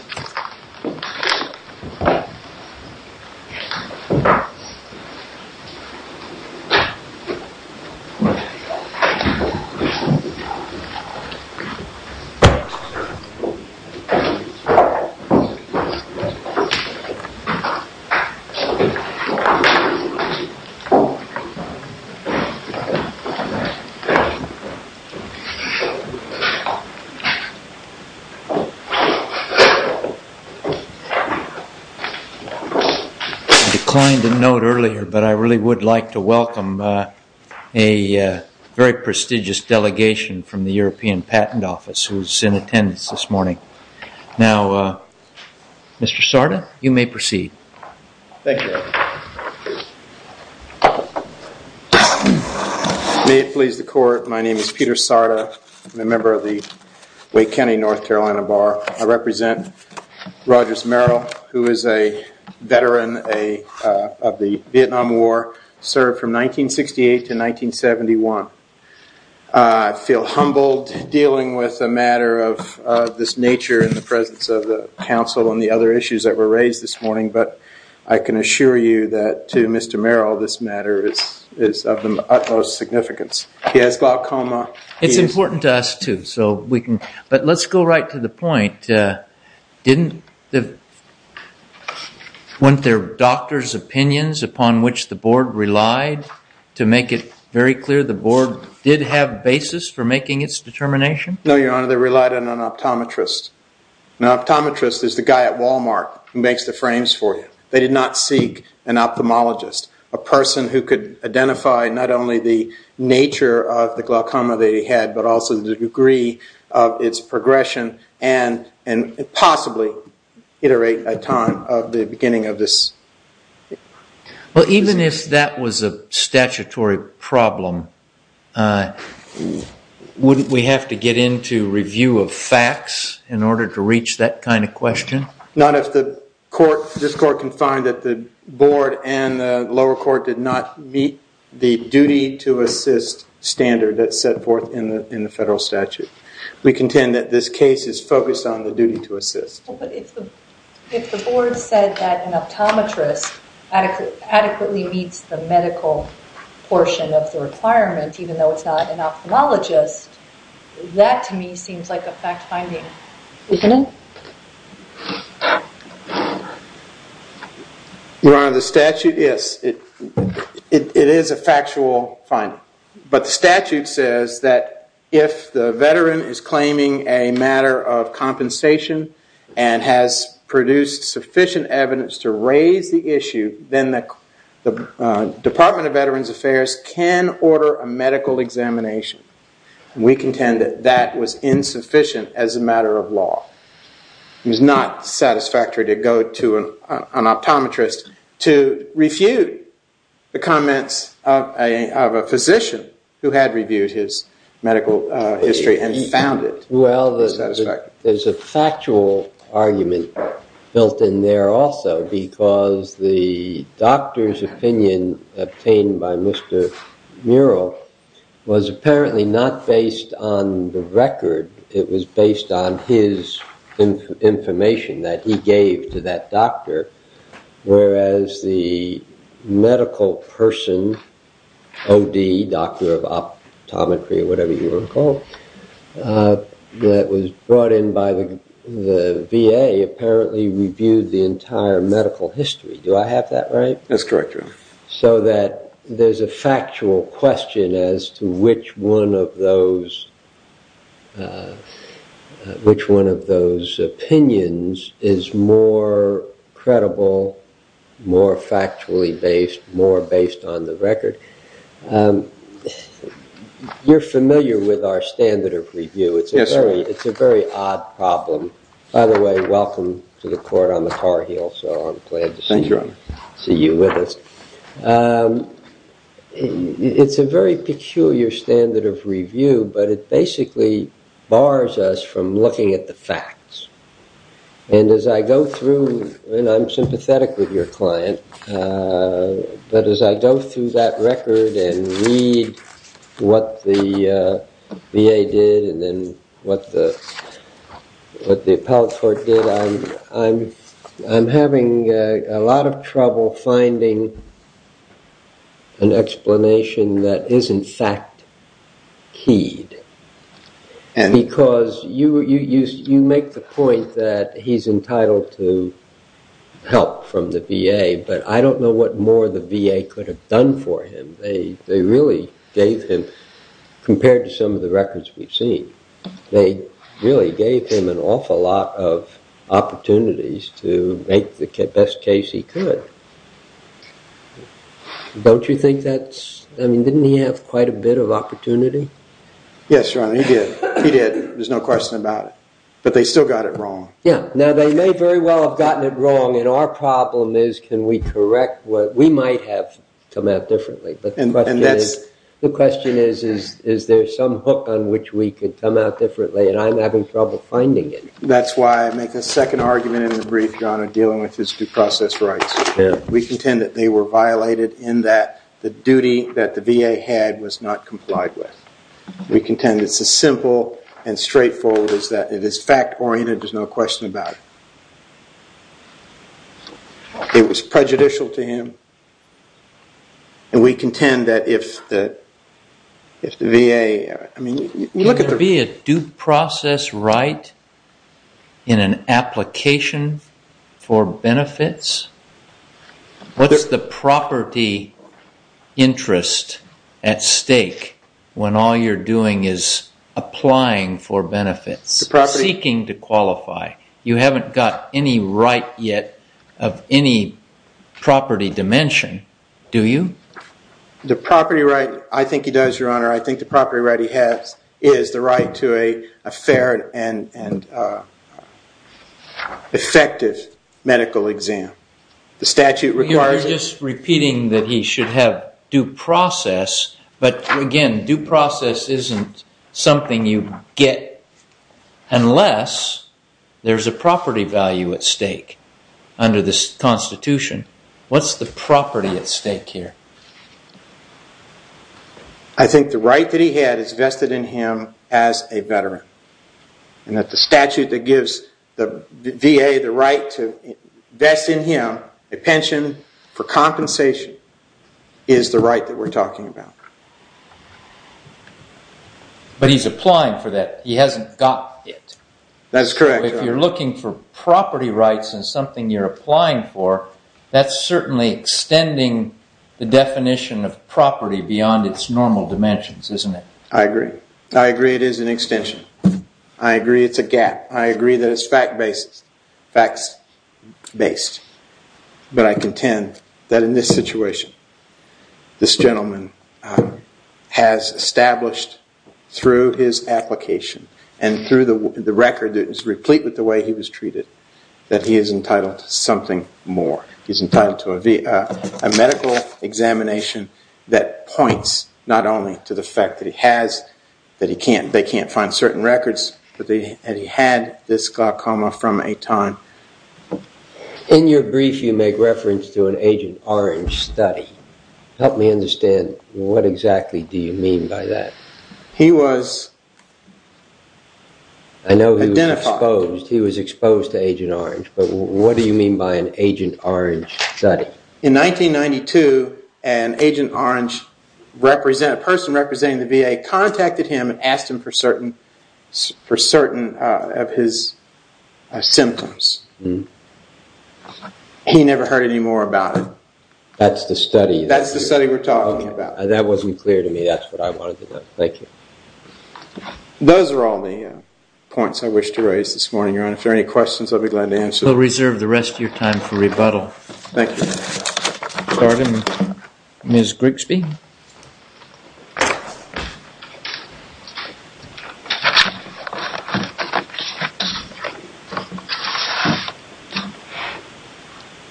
V.S. I declined to note earlier, but I really would like to welcome a very prestigious delegation from the European Patent Office who is in attendance this morning. Now, Mr. Sarda, you may proceed. Thank you. May it please the court, my name is Peter Sarda. I'm a member of the Wake County North Carolina Bar. I represent Rogers Merrill, who is a veteran of the Vietnam War, served from 1968 to 1971. I feel humbled dealing with a matter of this nature in the presence of the council and the other issues that were raised this morning, but I can assure you that to Mr. Merrill, this matter is of the utmost significance. He has glaucoma. It's important to us too, so we can, but let's go right to the point. Didn't the doctor's opinions upon which the board relied, to make it very clear, the board did have basis for making its determination? No, your honor, they relied on an optometrist. An optometrist is the guy at Walmart who makes the frames for you. They did not seek an ophthalmologist, a person who could identify not only the nature of the glaucoma they had, but also the degree of its progression and possibly iterate a time of the beginning of this. Well, even if that was a statutory problem, wouldn't we have to get into review of facts in order to reach that kind of question? Not if the court, this court can find that the board and the lower court did not meet the duty to assist standard that's set forth in the federal statute. We contend that this case is focused on the duty to assist. If the board said that an optometrist adequately meets the medical portion of the requirement, even though it's not an ophthalmologist, that to me seems like a fact finding, isn't it? Your honor, the statute, yes, it is a factual finding, but the statute says that if the veteran is claiming a matter of compensation and has produced sufficient evidence to raise the issue, then the Department of Veterans Affairs can order a medical examination. We contend that that was insufficient as a matter of law. It was not satisfactory to go to an optometrist to refute the comments of a physician who had reviewed his medical history and found it. Well, there's a factual argument built in there also because the doctor's opinion obtained by Mr. Murrell was apparently not based on the record. It was based on his information that he gave to that doctor, whereas the medical person, OD, doctor of optometry or whatever you were called, that was brought in by the VA apparently reviewed the entire medical history. Do I have that right? That's correct, your honor. So that there's a factual question as to which one of those opinions is more credible, more factually based, more based on the record. You're familiar with our standard of review. It's a very odd problem. By the way, welcome to the court. I'm a Tar Heel, so I'm glad to see you with us. It's a very peculiar standard of review, but it basically bars us from looking at the facts. And as I go through, and I'm sympathetic with your client, but as I go through that record and read what the VA did and then what the appellate court did, I'm having a lot of trouble finding an explanation that is in fact keyed, because you make the point that he's entitled to help from the VA, but I don't know what more the VA could have done for him. They really gave him, compared to some of the records we've seen, they really gave him an awful lot of opportunities to make the best case he could. Don't you think that's, I mean, didn't he have quite a bit of opportunity? Yes, your honor, he did. He did. There's no question about it, but they still got it wrong. Yeah, now they may very well have gotten it wrong, and our problem is can we correct what we might have come out differently, but the question is, is there some hook on which we could come out differently, and I'm having trouble finding it. That's why I make a second argument in the brief, your honor, dealing with his due process rights. We contend that they were violated in that the duty that the VA had was not complied with. We contend it's as simple and straightforward as that. It is fact-oriented. There's no question about it. It was prejudicial to him, and we contend that if the VA, I mean, look at the... In an application for benefits, what's the property interest at stake when all you're doing is applying for benefits, seeking to qualify? You haven't got any right yet of any property dimension, do you? The property right, I think he does, your honor. I think the property right he has is the right to a fair and effective medical exam. The statute requires it. You are just repeating that he should have due process, but again, due process isn't something you get unless there's a property value at stake under this Constitution. What's the property at stake here? I think the right that he had is vested in him as a veteran, and that the statute that gives the VA the right to invest in him a pension for compensation is the right that we're talking about. But he's applying for that. He hasn't got it. That's correct, your honor. It's a definition of property beyond its normal dimensions, isn't it? I agree. I agree it is an extension. I agree it's a gap. I agree that it's fact-based. But I contend that in this situation, this gentleman has established through his application and through the record that is He's entitled to a medical examination that points not only to the fact that he has, that they can't find certain records, but that he had this glaucoma from a time. In your brief, you make reference to an Agent Orange study. Help me understand what exactly do you mean by that? He was identified. He was exposed. He was exposed to Agent Orange. But what do you mean by an Agent Orange study? In 1992, an Agent Orange person representing the VA contacted him and asked him for certain of his symptoms. He never heard any more about it. That's the study? That's the study we're talking about. That wasn't clear to me. That's what I wanted to know. Thank you. Those are all the points I wish to raise this morning, Your Honor. If there are any questions, I'll be glad to answer them. We'll reserve the rest of your time for rebuttal. Thank you. Pardon me. Ms. Grigsby?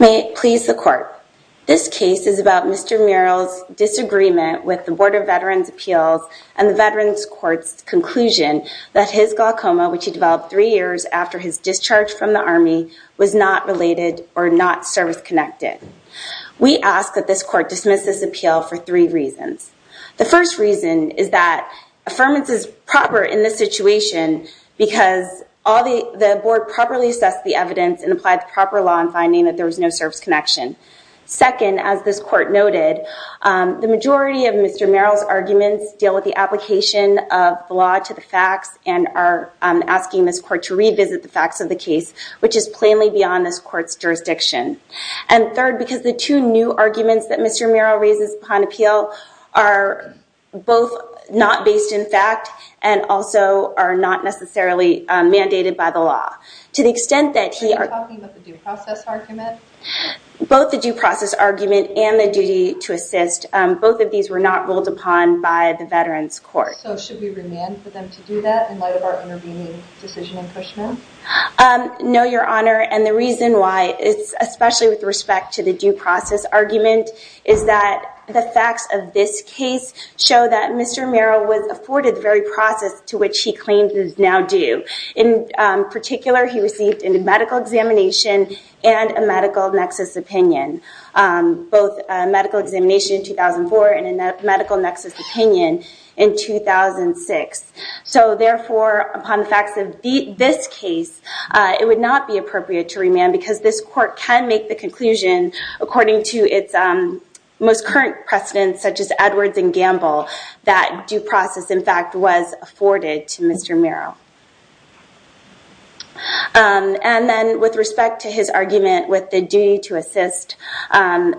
May it please the Court. This case is about Mr. Murrell's disagreement with the Board of Veterans' Appeals and the Veterans Court's conclusion that his glaucoma, which he developed three years after his discharge from the Army, was not related or not service-connected. We ask that this Court dismiss this appeal for three reasons. The first reason is that affirmance is proper in this situation because the Board properly assessed the evidence and applied the proper law in finding that there was no service connection. Second, as this Court noted, the majority of Mr. Murrell's arguments deal with the application of the law to the facts and are asking this Court to revisit the facts of the case, which is plainly beyond this Court's jurisdiction. And third, because the two new arguments that Mr. Murrell raises upon appeal are both not based in fact and also are not necessarily mandated by the law. To the extent that he... Are you talking about the due process argument? Both the due process argument and the duty to assist, both of these were not ruled upon by the Veterans Court. So should we remand for them to do that in light of our intervening decision in Pushman? No, Your Honor, and the reason why, especially with respect to the due process argument, is that the facts of this case show that Mr. Murrell was afforded the very process to which he claims is now due. In particular, he received a medical examination and a medical nexus opinion, both a medical examination in 2004 and a medical nexus opinion in 2006. So therefore, upon the facts of this case, it would not be appropriate to remand because this Court can make the conclusion, according to its most current precedents, such as Edwards and Gamble, that due process, in fact, was afforded to Mr. Murrell. And then with respect to his argument with the duty to assist, again,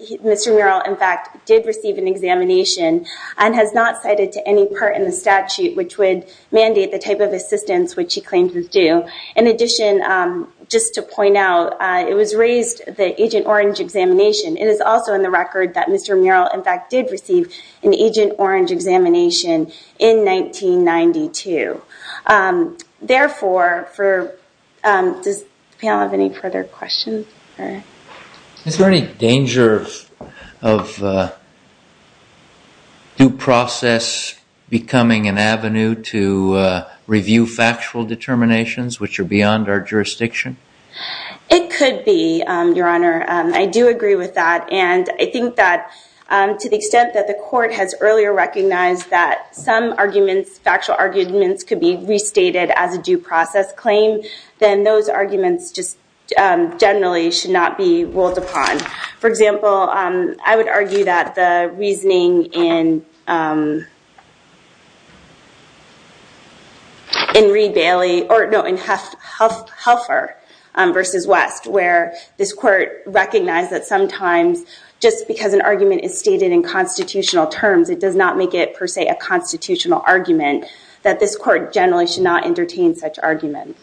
Mr. Murrell, in fact, did receive an examination and has not cited to any part in the statute which would mandate the type of assistance which he claims is due. In addition, just to point out, it was raised the Agent Orange examination. It is also in the record that Mr. Murrell, in fact, did receive an Agent Orange examination in 1992. Therefore, does the panel have any further questions? Is there any danger of due process becoming an avenue to review factual determinations which are beyond our jurisdiction? It could be, Your Honor. I do agree with that. I think that to the extent that the Court has earlier recognized that some arguments, factual arguments, could be restated as a due process claim, then those arguments just generally should not be ruled upon. For example, I would argue that the reasoning in Helfer v. West, where this Court recognized that sometimes just because an argument is stated in constitutional terms, it does not make it, per se, a constitutional argument, that this Court generally should not entertain such arguments.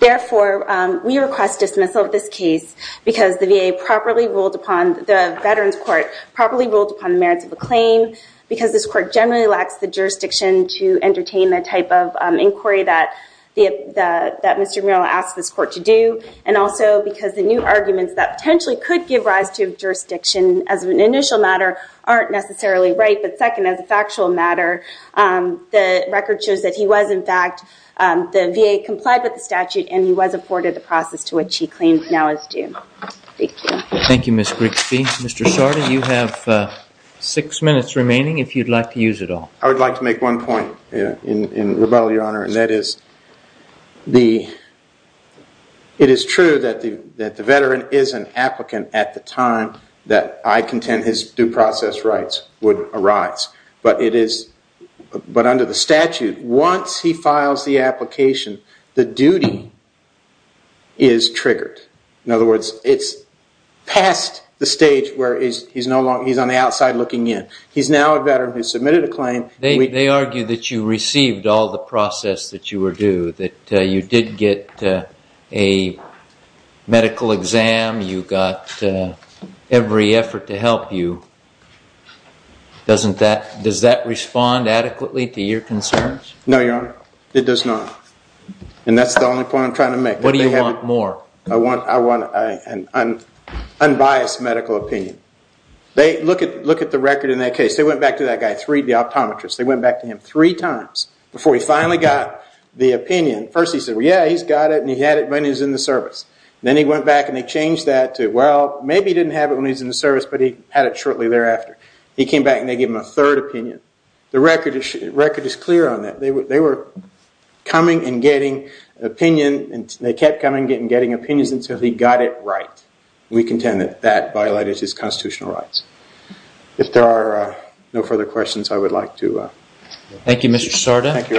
Therefore, we request dismissal of this case because the VA properly ruled upon, the Veterans Court properly ruled upon the merits of the claim because this Court generally lacks the jurisdiction to entertain the type of inquiry that Mr. Murrell asked this Court to do. Also, because the new arguments that potentially could give rise to jurisdiction as an initial matter aren't necessarily right. But second, as a factual matter, the record shows that he was, in fact, the VA complied with the statute and he was afforded the process to which he claims now is due. Thank you. Thank you, Ms. Grigsby. Mr. Sarda, you have six minutes remaining if you'd like to use it all. I would like to make one point in rebuttal, Your Honor, and that is it is true that the veteran is an applicant at the time that I contend his due process rights would arise. But under the statute, once he files the application, the duty is triggered. In other words, it's past the stage where he's on the outside looking in. He's now a veteran who submitted a claim. They argue that you received all the process that you were due, that you did get a medical exam, you got every effort to help you. Does that respond adequately to your concerns? No, Your Honor, it does not. And that's the only point I'm trying to make. What do you want more? I want an unbiased medical opinion. They look at the record in that case. They went back to that guy, the optometrist. They went back to him three times before he finally got the opinion. First he said, yeah, he's got it and he had it when he was in the service. Then he went back and they changed that to, well, maybe he didn't have it when he was in the service but he had it shortly thereafter. He came back and they gave him a third opinion. The record is clear on that. They were coming and getting opinion and they kept coming and getting opinions until he got it right. We contend that that violated his constitutional rights. If there are no further questions, I would like to... Thank you, Mr. Sarda. Thank you, Your Honor.